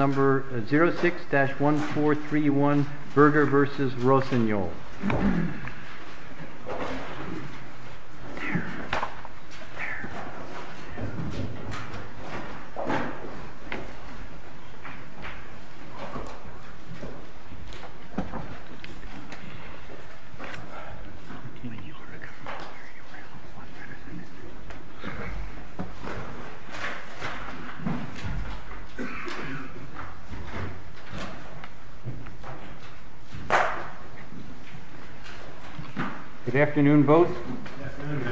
Number 06-1431 Berger v. Rossignol Good afternoon, both. Good afternoon,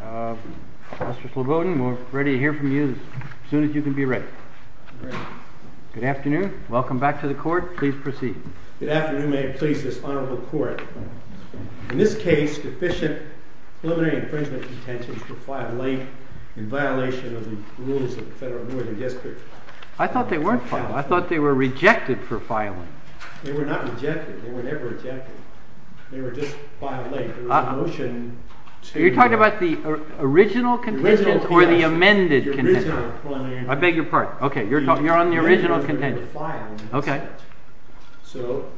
Your Honor. Mr. Slobodin, we're ready to hear from you as soon as you can be ready. I'm ready. Good afternoon. Welcome back to the court. Please proceed. Good afternoon. May it please this honorable court, in this case, deficient preliminary infringement contentions for file length in violation of the rules of the Federal Board of Justice. I thought they weren't filed. I thought they were rejected for filing. They were not rejected. They were never rejected. They were just filed late. You're talking about the original contentions or the amended contentions? The original. I beg your pardon. Okay. You're on the original contentions. Okay. So,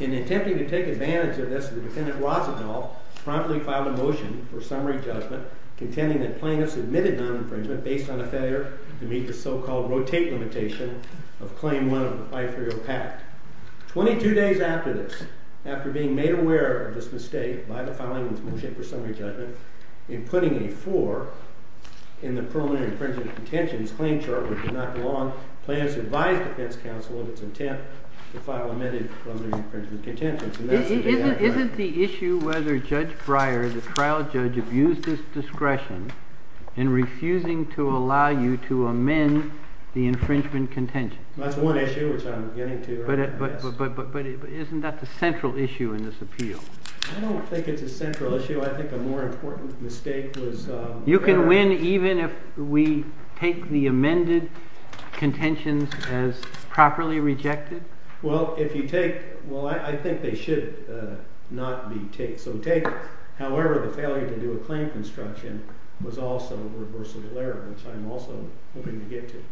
in attempting to take advantage of this, the defendant, Rossignol, promptly filed a motion for summary judgment contending that plaintiffs admitted non-infringement based on a failure to meet the so-called rotate limitation of Claim 1 of the 530 pact. Twenty-two days after this, after being made aware of this mistake by the filing of this motion for summary judgment, in putting a 4 in the preliminary infringement contentions claim chart, which did not belong, plaintiffs advised the defense counsel of its intent to file amended preliminary infringement contentions. Isn't the issue whether Judge Breyer, the trial judge, abused his discretion in refusing to allow you to amend the infringement contentions? That's one issue, which I'm getting to. But isn't that the central issue in this appeal? I don't think it's a central issue. I think a more important mistake was— You can win even if we take the amended contentions as properly rejected? Well, if you take—well, I think they should not be taken. However, the failure to do a claim construction was also a reversible error, which I'm also hoping to get to.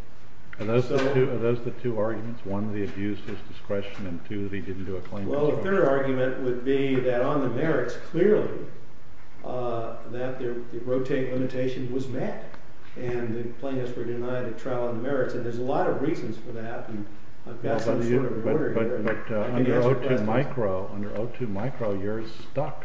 Are those the two arguments? One, that he abused his discretion, and two, that he didn't do a claim construction? Well, the third argument would be that on the merits, clearly, that the rotate limitation was met, and the plaintiffs were denied a trial on the merits. And there's a lot of reasons for that, and I've got some sort of order here. But under O2 micro, you're stuck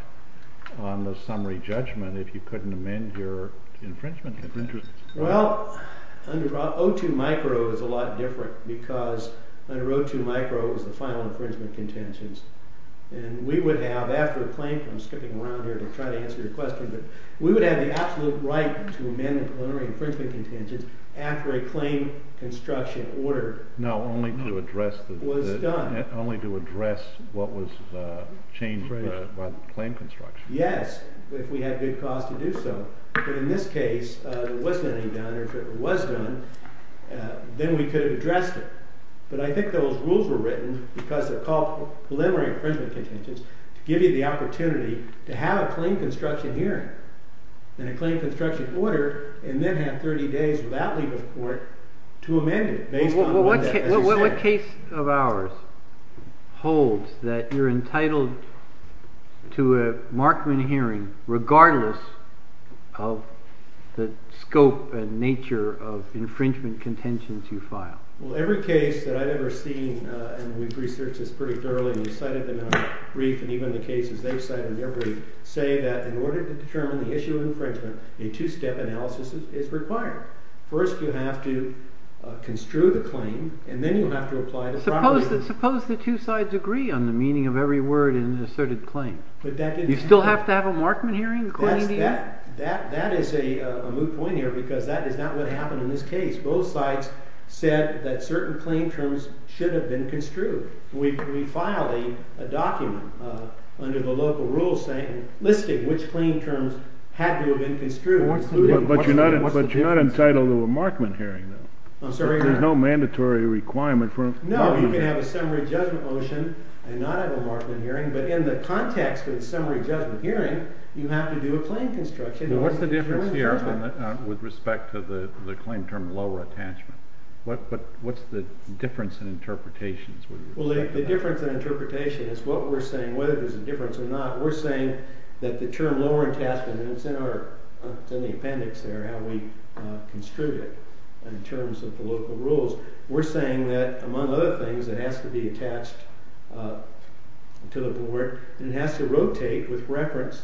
on the summary judgment if you couldn't amend your infringement contentions. Well, under O2 micro, it was a lot different, because under O2 micro, it was the final infringement contentions. And we would have, after a claim—I'm skipping around here to try to answer your question—but we would have the absolute right to amend the preliminary infringement contentions after a claim construction order was done. No, only to address what was changed by the claim construction. Yes, if we had good cause to do so. But in this case, if it was done, then we could have addressed it. But I think those rules were written, because they're called preliminary infringement contentions, to give you the opportunity to have a claim construction hearing, and a claim construction order, and then have 30 days without leave of court to amend it, based on what you say. But the text of ours holds that you're entitled to a Markman hearing, regardless of the scope and nature of infringement contentions you file. Well, every case that I've ever seen, and we've researched this pretty thoroughly, and we've cited them in our brief, and even the cases they've cited in their brief, say that in order to determine the issue of infringement, a two-step analysis is required. First, you have to construe the claim, and then you have to apply the proper— Suppose the two sides agree on the meaning of every word in an asserted claim. But that didn't happen. You still have to have a Markman hearing according to your— That is a moot point here, because that is not what happened in this case. Both sides said that certain claim terms should have been construed. We filed a document under the local rules listing which claim terms had to have been construed. But you're not entitled to a Markman hearing, though. I'm sorry? There's no mandatory requirement for— No, you can have a summary judgment motion and not have a Markman hearing, but in the context of a summary judgment hearing, you have to do a claim construction. What's the difference here with respect to the claim term lower attachment? What's the difference in interpretations? Well, the difference in interpretation is what we're saying, whether there's a difference or not. We're saying that the term lower attachment—and it's in the appendix there, how we construed it in terms of the local rules. We're saying that, among other things, it has to be attached to the board, and it has to rotate with reference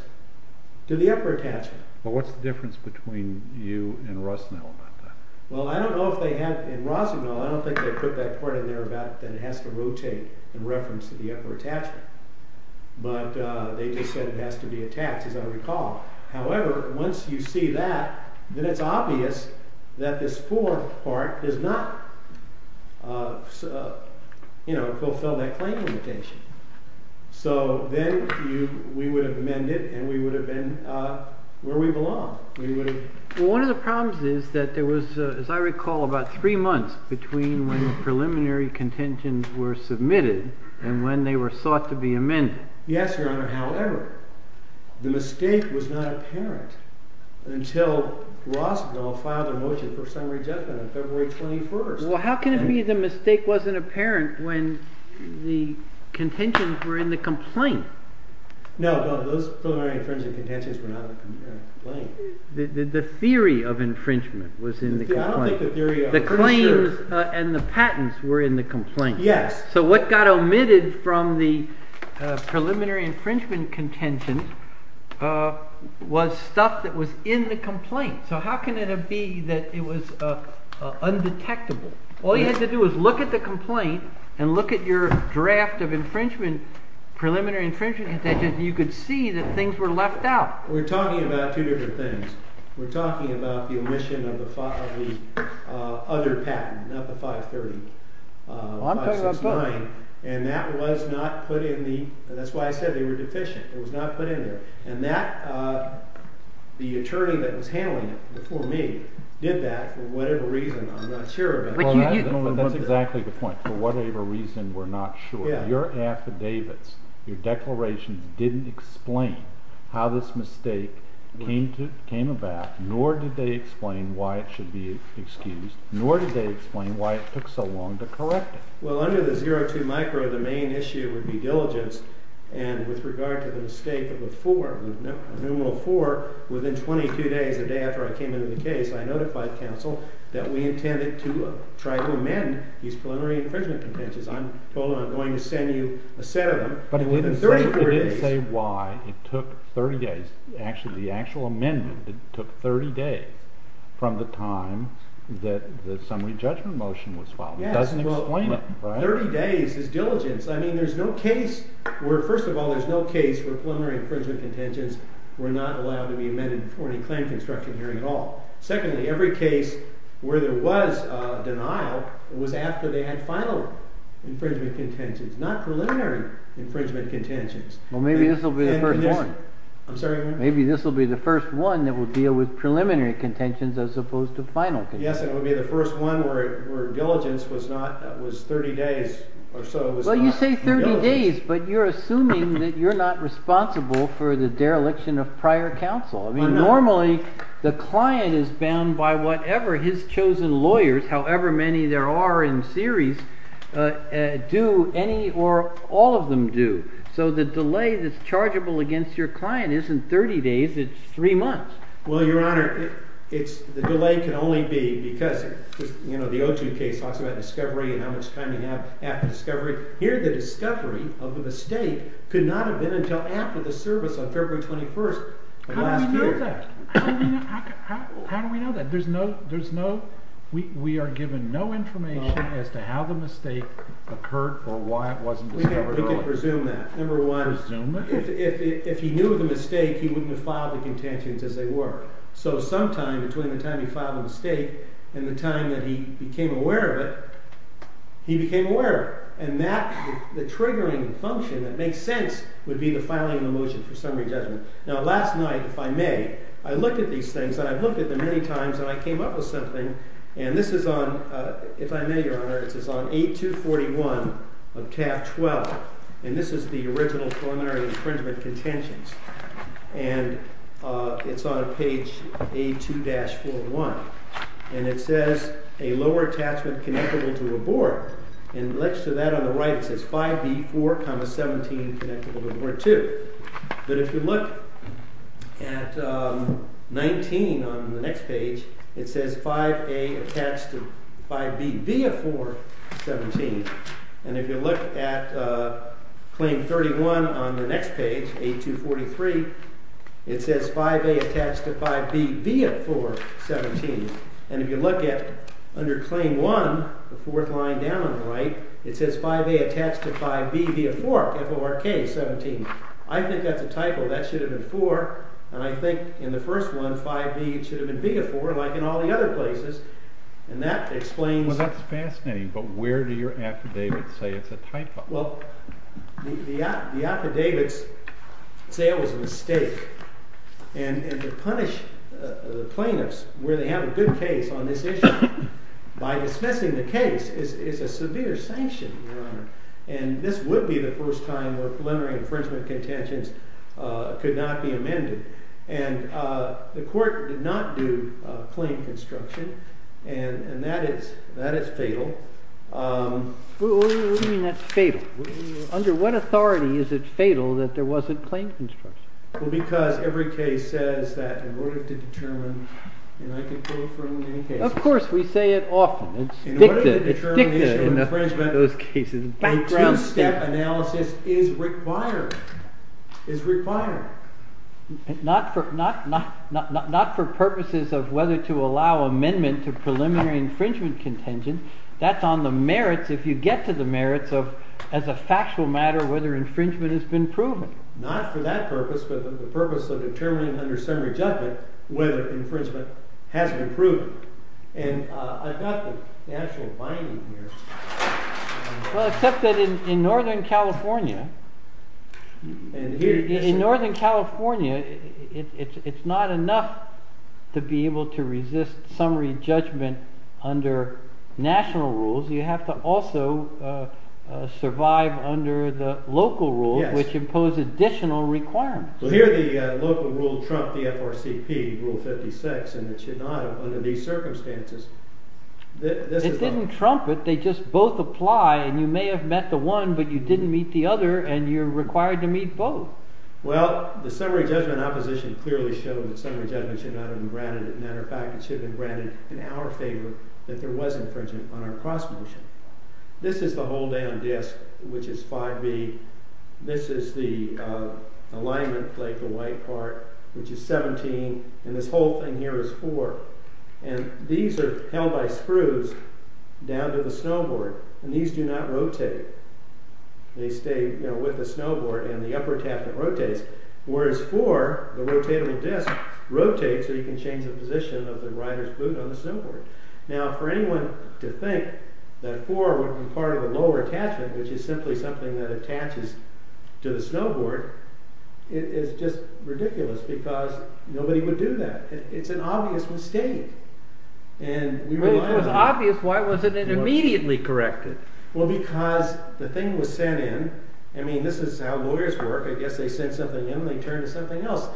to the upper attachment. But what's the difference between you and Rossignol about that? Well, I don't know if they have—in Rossignol, I don't think they put that part in there about that it has to rotate in reference to the upper attachment. But they just said it has to be attached, as I recall. However, once you see that, then it's obvious that this fourth part does not fulfill that claim limitation. So then we would have amended, and we would have been where we belong. Well, one of the problems is that there was, as I recall, about three months between when the preliminary contentions were submitted and when they were sought to be amended. Yes, Your Honor. However, the mistake was not apparent until Rossignol filed a motion for summary judgment on February 21. Well, how can it be the mistake wasn't apparent when the contentions were in the complaint? No, those preliminary infringement contentions were not in the complaint. The theory of infringement was in the complaint. I don't think the theory of— The claims and the patents were in the complaint. Yes. So what got omitted from the preliminary infringement contentions was stuff that was in the complaint. So how can it be that it was undetectable? All you had to do was look at the complaint and look at your draft of infringement, preliminary infringement contentions, and you could see that things were left out. We're talking about two different things. We're talking about the omission of the other patent, not the 530. Well, I'm talking about 560. And that was not put in the—that's why I said they were deficient. It was not put in there. And that—the attorney that was handling it before me did that for whatever reason I'm not sure about. Well, that's exactly the point. For whatever reason we're not sure. Your affidavits, your declarations didn't explain how this mistake came about, nor did they explain why it should be excused, nor did they explain why it took so long to correct it. Well, under the 02 micro, the main issue would be diligence. And with regard to the mistake of a 4, a numeral 4, within 22 days, the day after I came into the case, I notified counsel that we intended to try to amend these preliminary infringement contentions. I told them I'm going to send you a set of them. But it didn't say why it took 30 days. Actually, the actual amendment took 30 days from the time that the summary judgment motion was filed. It doesn't explain it. 30 days is diligence. I mean, there's no case where—first of all, there's no case where preliminary infringement contentions were not allowed to be amended before any claim construction hearing at all. Secondly, every case where there was a denial was after they had final infringement contentions, not preliminary infringement contentions. Well, maybe this will be the first one. I'm sorry? Maybe this will be the first one that will deal with preliminary contentions as opposed to final contentions. Yes, and it would be the first one where diligence was 30 days or so. Well, you say 30 days, but you're assuming that you're not responsible for the dereliction of prior counsel. I mean, normally the client is bound by whatever his chosen lawyers, however many there are in series, do, any or all of them do. So the delay that's chargeable against your client isn't 30 days, it's 3 months. Well, Your Honor, the delay can only be because, you know, the Oju case talks about discovery and how much time you have after discovery. Here the discovery of the mistake could not have been until after the service on February 21st of last year. How do we know that? How do we know that? There's no—we are given no information as to how the mistake occurred or why it wasn't discovered at all. We can presume that. Number one, if he knew the mistake, he wouldn't have filed the contentions as they were. So sometime between the time he filed the mistake and the time that he became aware of it, he became aware. And the triggering function that makes sense would be the filing of the motion for summary judgment. Now last night, if I may, I looked at these things, and I've looked at them many times, and I came up with something. And this is on—if I may, Your Honor, this is on A241 of Taft 12, and this is the original preliminary infringement contentions. And it's on page A2-41. And it says, a lower attachment connectable to a board. And next to that on the right, it says 5B4, 17 connectable to board 2. But if you look at 19 on the next page, it says 5A attached to 5B, B of 4, 17. And if you look at claim 31 on the next page, A243, it says 5A attached to 5B, B of 4, 17. And if you look at under claim 1, the fourth line down on the right, it says 5A attached to 5B, B of 4, F-O-R-K, 17. I think that's a typo. That should have been 4. And I think in the first one, 5B should have been B of 4, like in all the other places. And that explains— Well, that's fascinating. But where do your affidavits say it's a typo? Well, the affidavits say it was a mistake. And to punish the plaintiffs where they have a good case on this issue by dismissing the case is a severe sanction, Your Honor. And this would be the first time where preliminary infringement contentions could not be amended. And the court did not do claim construction, and that is fatal. What do you mean that's fatal? Under what authority is it fatal that there wasn't claim construction? Well, because every case says that in order to determine—and I could go from any case— Of course, we say it often. It's dicta. It's dicta in those cases. A two-step analysis is required. Not for purposes of whether to allow amendment to preliminary infringement contention. That's on the merits, if you get to the merits, as a factual matter, whether infringement has been proven. Not for that purpose, but the purpose of determining under summary judgment whether infringement has been proven. And I've got the actual binding here. Well, except that in Northern California, it's not enough to be able to resist summary judgment under national rules. You have to also survive under the local rules, which impose additional requirements. Well, here the local rule trumped the FRCP Rule 56, and it should not have under these circumstances. It didn't trump it. They just both apply, and you may have met the one, but you didn't meet the other, and you're required to meet both. Well, the summary judgment opposition clearly showed that summary judgment should not have been granted. As a matter of fact, it should have been granted in our favor that there was infringement on our cross-motion. This is the hold-down disk, which is 5B. This is the alignment plate, the white part, which is 17, and this whole thing here is 4. And these are held by screws down to the snowboard, and these do not rotate. They stay with the snowboard, and the upper attachment rotates. Whereas 4, the rotatable disk, rotates so you can change the position of the rider's boot on the snowboard. Now, for anyone to think that 4 would be part of the lower attachment, which is simply something that attaches to the snowboard, it is just ridiculous, because nobody would do that. It's an obvious mistake, and we rely on it. Well, if it was obvious, why wasn't it immediately corrected? Well, because the thing was sent in. I mean, this is how lawyers work. I guess they send something in, and they turn to something else.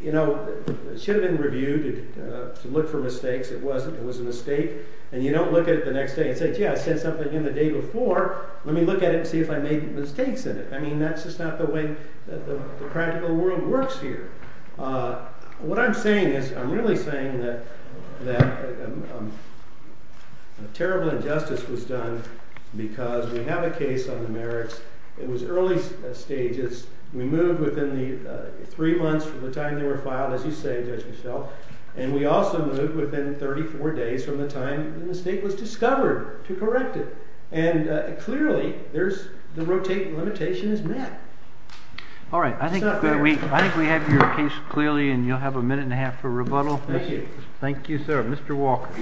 You know, it should have been reviewed to look for mistakes. It wasn't. It was a mistake. And you don't look at it the next day and say, gee, I sent something in the day before. Let me look at it and see if I made mistakes in it. I mean, that's just not the way the practical world works here. What I'm saying is I'm really saying that a terrible injustice was done because we have a case on the merits. It was early stages. We moved within three months from the time they were filed, as you say, Judge Michel. And we also moved within 34 days from the time the mistake was discovered to correct it. And clearly, the rotation limitation is met. All right. I think we have your case clearly, and you'll have a minute and a half for rebuttal. Thank you. Thank you, sir. Mr. Walker.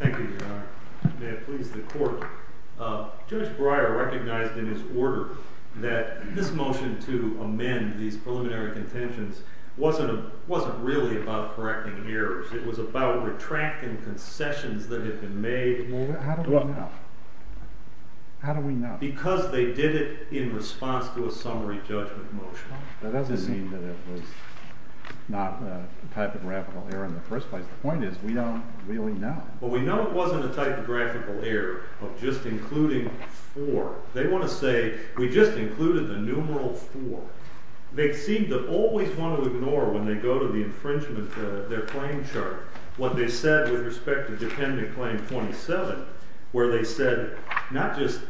Thank you, Your Honor. May it please the Court. Judge Breyer recognized in his order that this motion to amend these preliminary contentions wasn't really about correcting errors. It was about retracting concessions that had been made. Well, how do we know? How do we know? Because they did it in response to a summary judgment motion. That doesn't mean that it was not a typographical error in the first place. The point is we don't really know. Well, we know it wasn't a typographical error of just including four. They want to say we just included the numeral four. They seem to always want to ignore, when they go to the infringement, their claim chart, what they said with respect to dependent claim 27, where they said not just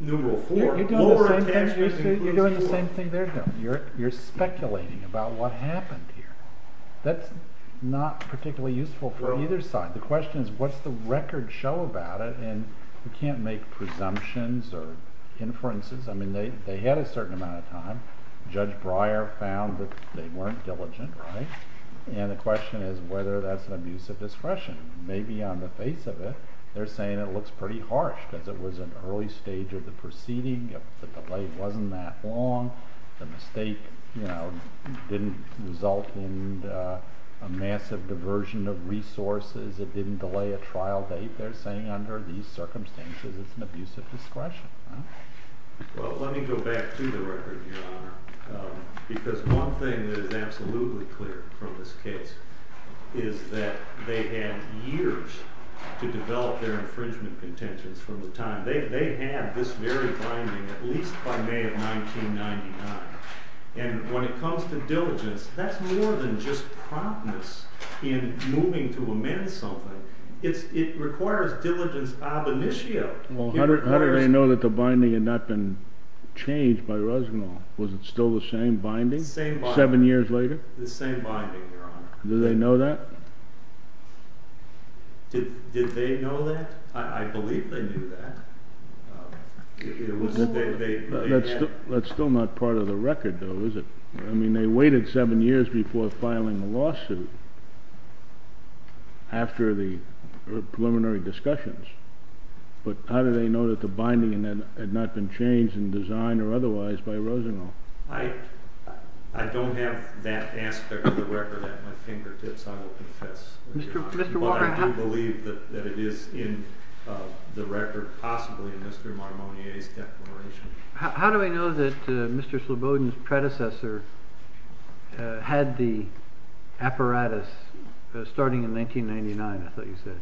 numeral four, lower attachment includes numeral four. You're doing the same thing they're doing. You're speculating about what happened here. That's not particularly useful for either side. The question is what's the record show about it, and you can't make presumptions or inferences. They had a certain amount of time. Judge Breyer found that they weren't diligent. The question is whether that's an abuse of discretion. Maybe on the face of it, they're saying it looks pretty harsh because it was an early stage of the proceeding. The delay wasn't that long. The mistake didn't result in a massive diversion of resources. It didn't delay a trial date. They're saying under these circumstances, it's an abuse of discretion. Well, let me go back to the record, Your Honor, because one thing that is absolutely clear from this case is that they had years to develop their infringement contentions from the time. They had this very binding, at least by May of 1999. When it comes to diligence, that's more than just promptness in moving to amend something. It requires diligence ab initio. Well, how did they know that the binding had not been changed by Resnick? Was it still the same binding seven years later? The same binding, Your Honor. Did they know that? Did they know that? I believe they knew that. That's still not part of the record, though, is it? I mean, they waited seven years before filing a lawsuit after the preliminary discussions. But how did they know that the binding had not been changed in design or otherwise by Rosenau? I don't have that aspect of the record at my fingertips, I will confess. But I do believe that it is in the record, possibly in Mr. Marmonnier's declaration. How do we know that Mr. Slobodin's predecessor had the apparatus starting in 1999, I thought you said?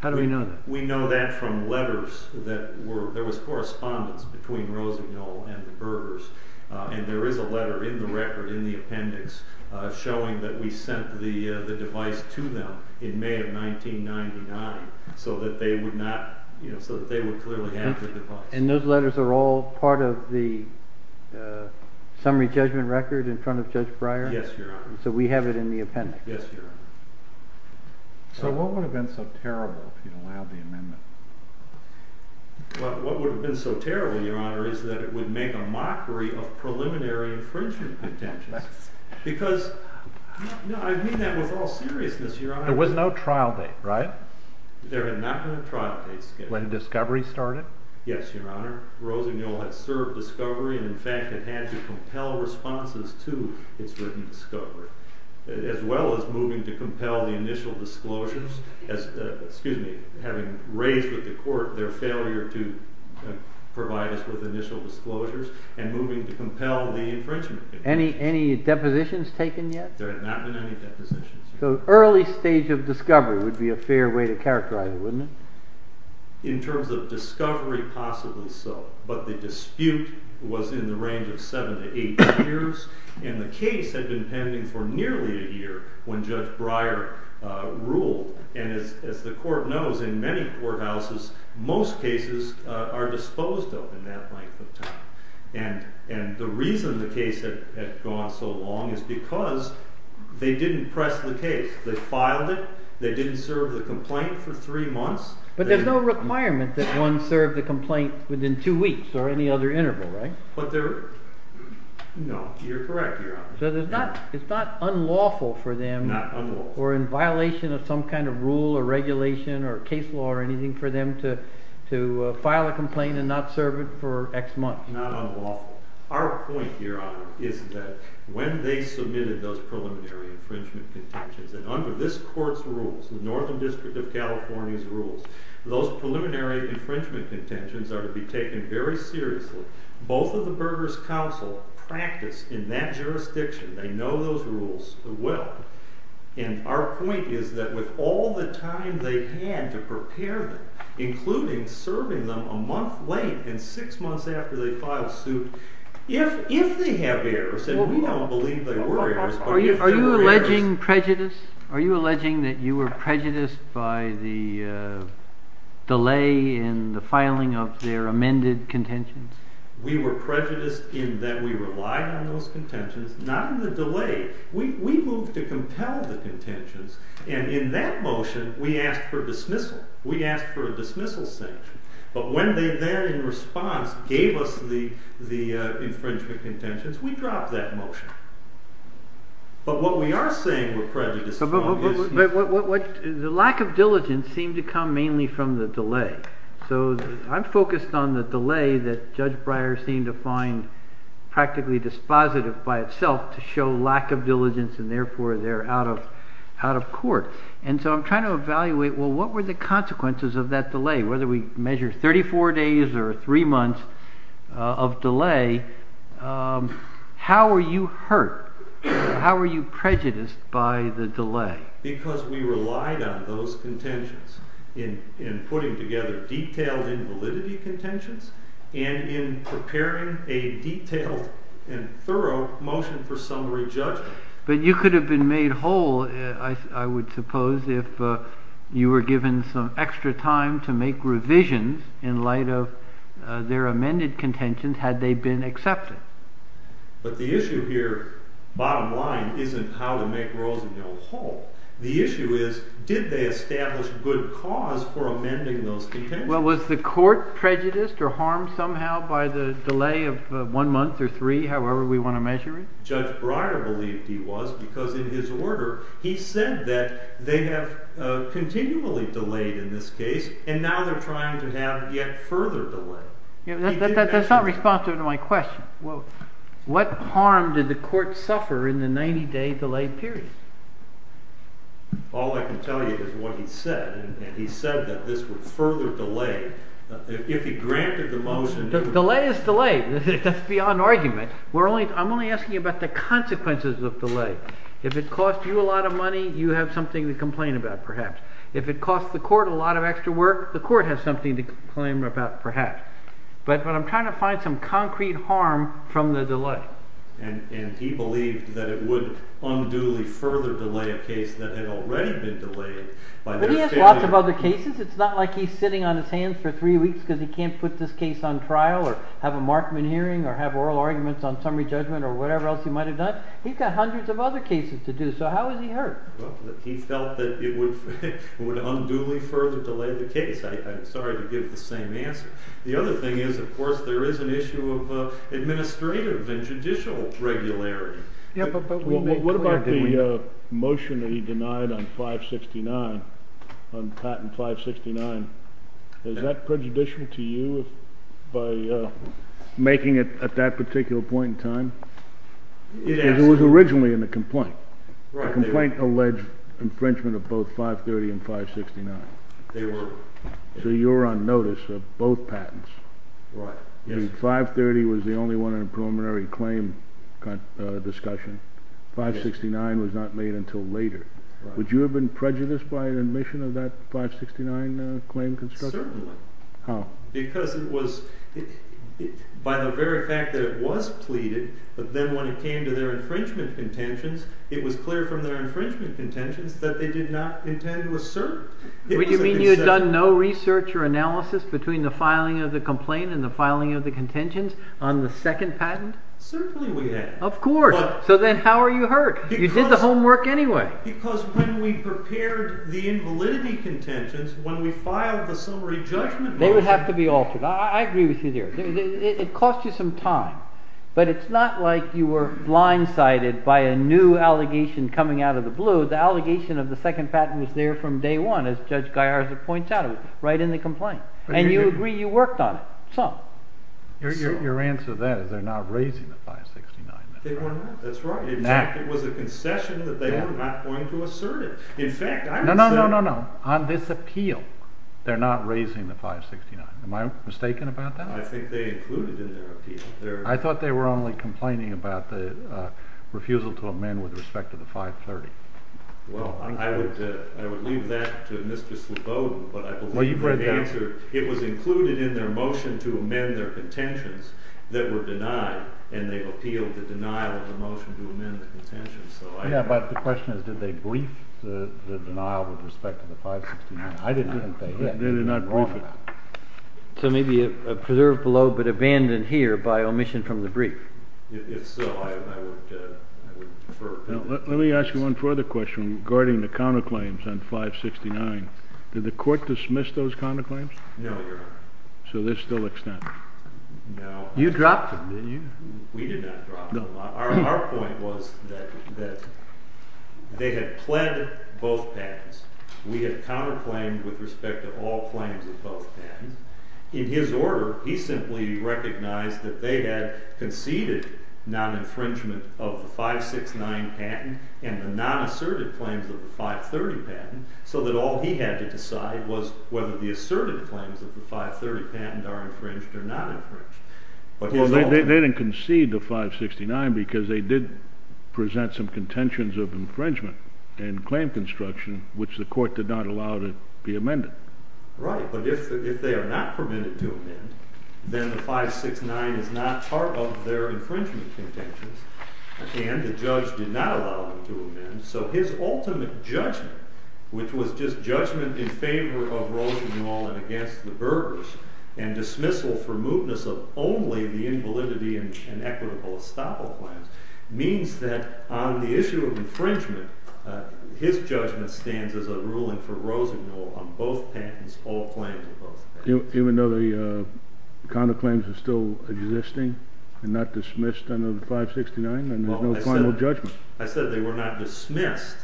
How do we know that? We know that from letters that were – there was correspondence between Rosenau and the Bergers, and there is a letter in the record in the appendix showing that we sent the device to them in May of 1999 so that they would clearly have the device. And those letters are all part of the summary judgment record in front of Judge Breyer? Yes, Your Honor. So we have it in the appendix? Yes, Your Honor. What would have been so terrible, Your Honor, is that it would make a mockery of preliminary infringement contentions. Because – no, I mean that with all seriousness, Your Honor. There was no trial date, right? There had not been a trial date. When discovery started? Yes, Your Honor. Rosenau had served discovery, and in fact it had to compel responses to its written discovery, as well as moving to compel the initial disclosures, having raised with the court their failure to provide us with initial disclosures, and moving to compel the infringement. Any depositions taken yet? There had not been any depositions. So early stage of discovery would be a fair way to characterize it, wouldn't it? In terms of discovery, possibly so. But the dispute was in the range of seven to eight years, and the case had been pending for nearly a year when Judge Breyer ruled. And as the court knows, in many courthouses, most cases are disposed of in that length of time. And the reason the case had gone so long is because they didn't press the case. They filed it, they didn't serve the complaint for three months. But there's no requirement that one serve the complaint within two weeks or any other interval, right? No, you're correct, Your Honor. So it's not unlawful for them, or in violation of some kind of rule or regulation or case law or anything, for them to file a complaint and not serve it for X months? Not unlawful. Our point, Your Honor, is that when they submitted those preliminary infringement contentions, and under this court's rules, the Northern District of California's rules, those preliminary infringement contentions are to be taken very seriously, both of the Berger's counsel practice in that jurisdiction. They know those rules well. And our point is that with all the time they had to prepare them, including serving them a month late and six months after they filed suit, if they have errors, and we don't believe they were errors, but if they were errors... Are you alleging prejudice? Are you alleging that you were prejudiced by the delay in the filing of their amended contentions? We were prejudiced in that we relied on those contentions, not in the delay. We moved to compel the contentions, and in that motion we asked for dismissal. We asked for a dismissal sanction. But when they then, in response, gave us the infringement contentions, we dropped that motion. But what we are saying we're prejudiced about is... But the lack of diligence seemed to come mainly from the delay. So I'm focused on the delay that Judge Breyer seemed to find practically dispositive by itself to show lack of diligence, and therefore they're out of court. And so I'm trying to evaluate, well, what were the consequences of that delay? Whether we measure 34 days or three months of delay, how were you hurt? How were you prejudiced by the delay? Because we relied on those contentions in putting together detailed invalidity contentions and in preparing a detailed and thorough motion for summary judgment. But you could have been made whole, I would suppose, if you were given some extra time to make revisions in light of their amended contentions had they been accepted. But the issue here, bottom line, isn't how to make Rosendale whole. The issue is, did they establish good cause for amending those contentions? Well, was the court prejudiced or harmed somehow by the delay of one month or three, however we want to measure it? Judge Breyer believed he was because in his order, he said that they have continually delayed in this case, and now they're trying to have yet further delay. That's not responsive to my question. What harm did the court suffer in the 90-day delay period? All I can tell you is what he said, and he said that this would further delay. If he granted the motion... Delay is delay. That's beyond argument. I'm only asking about the consequences of delay. If it cost you a lot of money, you have something to complain about, perhaps. If it cost the court a lot of extra work, the court has something to complain about, perhaps. But I'm trying to find some concrete harm from the delay. And he believed that it would unduly further delay a case that had already been delayed. But he has lots of other cases. It's not like he's sitting on his hands for three weeks because he can't put this case on trial or have a Markman hearing or have oral arguments on summary judgment or whatever else he might have done. He's got hundreds of other cases to do, so how is he hurt? He felt that it would unduly further delay the case. I'm sorry to give the same answer. The other thing is, of course, there is an issue of administrative and judicial regularity. What about the motion that he denied on Patent 569? Is that prejudicial to you by making it at that particular point in time? It was originally in the complaint. The complaint alleged infringement of both 530 and 569. They were. So you were on notice of both patents. Right. 530 was the only one in a preliminary claim discussion. 569 was not made until later. Would you have been prejudiced by admission of that 569 claim? Certainly. How? Because it was, by the very fact that it was pleaded, but then when it came to their infringement contentions, it was clear from their infringement contentions that they did not intend to assert. Would you mean you had done no research or analysis between the filing of the complaint and the filing of the contentions on the second patent? Certainly we had. Of course. So then how are you hurt? You did the homework anyway. Because when we prepared the invalidity contentions, when we filed the summary judgment motion. They would have to be altered. I agree with you there. It cost you some time, but it's not like you were blindsided by a new allegation coming out of the blue. The allegation of the second patent was there from day one, as Judge Gallarza points out. It was right in the complaint. And you agree you worked on it. Some. Your answer to that is they're not raising the 569. They were not. That's right. In fact, it was a concession that they were not going to assert it. In fact, I would say. No, no, no, no, no. On this appeal, they're not raising the 569. Am I mistaken about that? I think they included it in their appeal. I thought they were only complaining about the refusal to amend with respect to the 530. Well, I would leave that to Mr. Slobodin. But I believe the answer. Well, you've read that. It was included in their motion to amend their contentions that were denied, and they appealed the denial of the motion to amend the contentions. Yeah, but the question is, did they brief the denial with respect to the 569? I didn't think they did. They did not brief it. So maybe preserved below but abandoned here by omission from the brief. If so, I would defer. Let me ask you one further question regarding the counterclaims on 569. Did the court dismiss those counterclaims? No, Your Honor. So they're still extended? No. You dropped them, didn't you? We did not drop them. Our point was that they had pled both patents. We had counterclaimed with respect to all claims of both patents. In his order, he simply recognized that they had conceded non-infringement of the 569 patent and the non-assertive claims of the 530 patent so that all he had to decide was whether the assertive claims of the 530 patent are infringed or not infringed. They didn't concede the 569 because they did present some contentions of infringement and claim construction, which the court did not allow to be amended. Right, but if they are not permitted to amend, then the 569 is not part of their infringement contentions, and the judge did not allow them to amend. So his ultimate judgment, which was just judgment in favor of Rosenwald and against the Burgers and dismissal for mootness of only the invalidity and equitable estoppel claims, means that on the issue of infringement, his judgment stands as a ruling for Rosenwald on both patents, all claims of both patents. Even though the counterclaims are still existing and not dismissed under the 569 and there's no final judgment? I said they were not dismissed.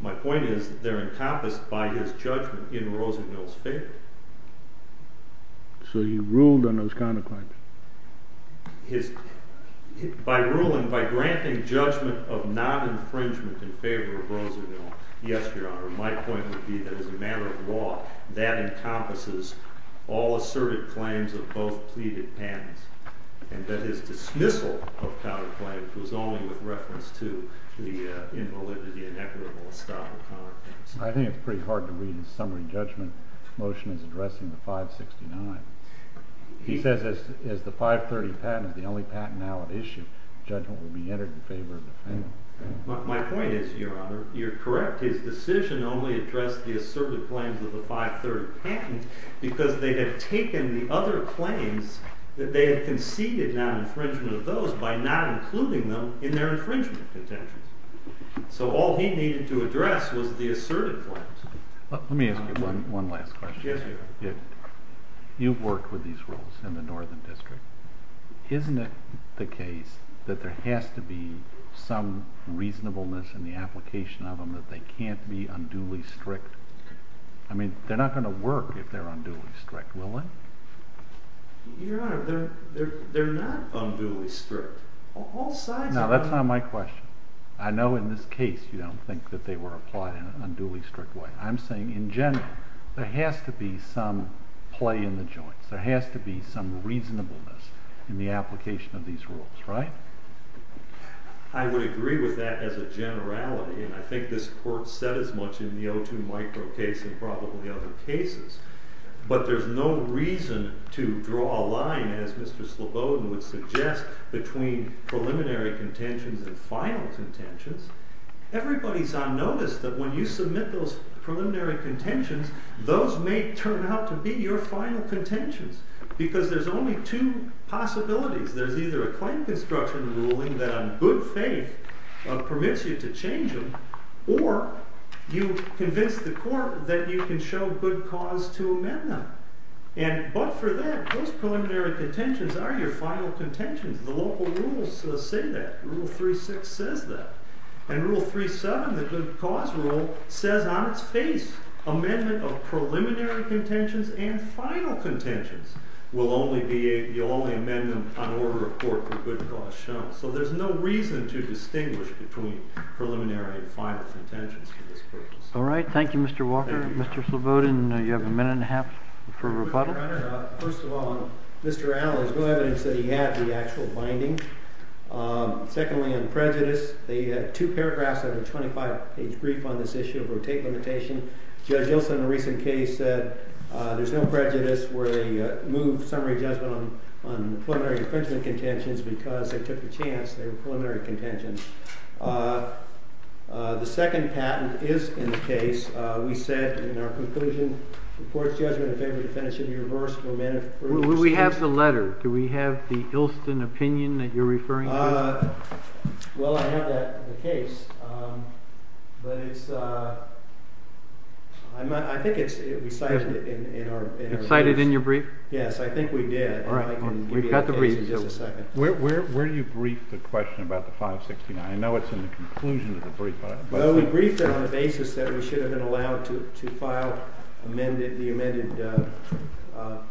My point is that they're encompassed by his judgment in Rosenwald's favor. So he ruled on those counterclaims? By ruling, by granting judgment of non-infringement in favor of Rosenwald, yes, Your Honor. My point would be that as a matter of law, that encompasses all assertive claims of both pleaded patents and that his dismissal of counterclaims was only with reference to the invalidity and equitable estoppel claims. I think it's pretty hard to read his summary judgment motion as addressing the 569. He says that as the 530 patent is the only patent now at issue, judgment will be entered in favor of the family. My point is, Your Honor, you're correct. His decision only addressed the assertive claims of the 530 patent because they had taken the other claims that they had conceded non-infringement of those by not including them in their infringement contentions. So all he needed to address was the assertive claims. Let me ask you one last question. Yes, Your Honor. You've worked with these rules in the Northern District. Isn't it the case that there has to be some reasonableness in the application of them that they can't be unduly strict? I mean, they're not going to work if they're unduly strict, will they? Your Honor, they're not unduly strict. No, that's not my question. I know in this case you don't think that they were applied in an unduly strict way. I'm saying in general there has to be some play in the joints. There has to be some reasonableness in the application of these rules, right? I would agree with that as a generality, and I think this court said as much in the O2 micro case and probably other cases. But there's no reason to draw a line, as Mr. Slobodin would suggest, between preliminary contentions and final contentions. Everybody's on notice that when you submit those preliminary contentions, those may turn out to be your final contentions because there's only two possibilities. There's either a claim construction ruling that on good faith permits you to change them, or you convince the court that you can show good cause to amend them. But for that, those preliminary contentions are your final contentions. The local rules say that. Rule 3-6 says that. And Rule 3-7, the good cause rule, says on its face, amendment of preliminary contentions and final contentions. You'll only amend them on order of court for good cause shown. So there's no reason to distinguish between preliminary and final contentions for this purpose. All right. Thank you, Mr. Walker. Mr. Slobodin, you have a minute and a half for rebuttal. Mr. Brenner, first of all, Mr. Allen, there's no evidence that he had the actual binding. Secondly, on prejudice, the two paragraphs of the 25-page brief on this issue of rotate limitation, Judge Ilson, in a recent case, said there's no prejudice where they moved summary judgment on the preliminary and finishing contentions because they took the chance. They were preliminary contentions. The second patent is in the case. We said in our conclusion, the court's judgment, if any, would finish in the reverse. Will we have the letter? Do we have the Ilson opinion that you're referring to? Well, I have that in the case. But I think we cited it in our brief. You cited it in your brief? Yes, I think we did. All right. We've got the brief. Where do you brief the question about the 569? I know it's in the conclusion of the brief. Well, we briefed it on the basis that we should have been allowed to file the amended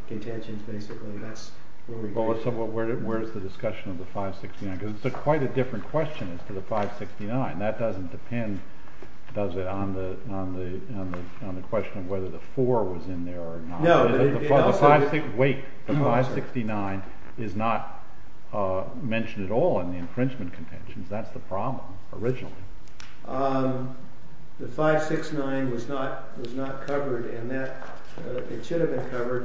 contentions, basically. That's where we briefed it. So where is the discussion of the 569? Because it's quite a different question as to the 569. That doesn't depend, does it, on the question of whether the 4 was in there or not? No. Wait. The 569 is not mentioned at all in the infringement contentions. That's the problem originally. The 569 was not covered, and it should have been covered.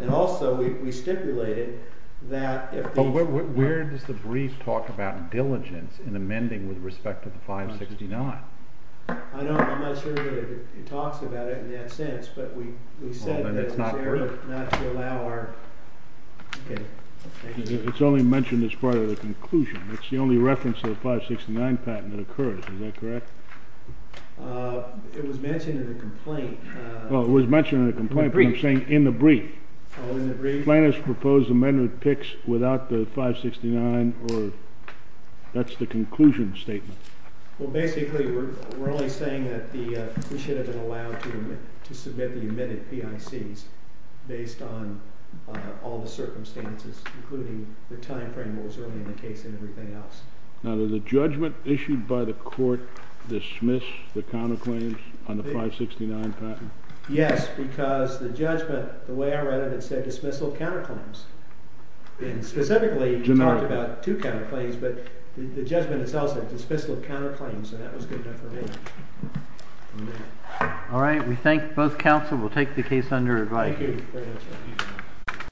And also, we stipulated that if the- But where does the brief talk about diligence in amending with respect to the 569? I'm not sure that it talks about it in that sense, but we said that it's there not to allow our- It's only mentioned as part of the conclusion. It's the only reference to the 569 patent that occurs. Is that correct? It was mentioned in the complaint. Well, it was mentioned in the complaint, but I'm saying in the brief. Oh, in the brief? Plaintiff's proposed amendment picks without the 569, or that's the conclusion statement. Well, basically, we're only saying that we should have been allowed to submit the amended PICs based on all the circumstances, including the time frame that was early in the case and everything else. Now, does the judgment issued by the court dismiss the counterclaims on the 569 patent? Yes, because the judgment, the way I read it, it said dismissal of counterclaims. And specifically, it talked about two counterclaims, but the judgment itself said dismissal of counterclaims, and that was good enough for me. All right, we thank both counsel. We'll take the case under review. Thank you.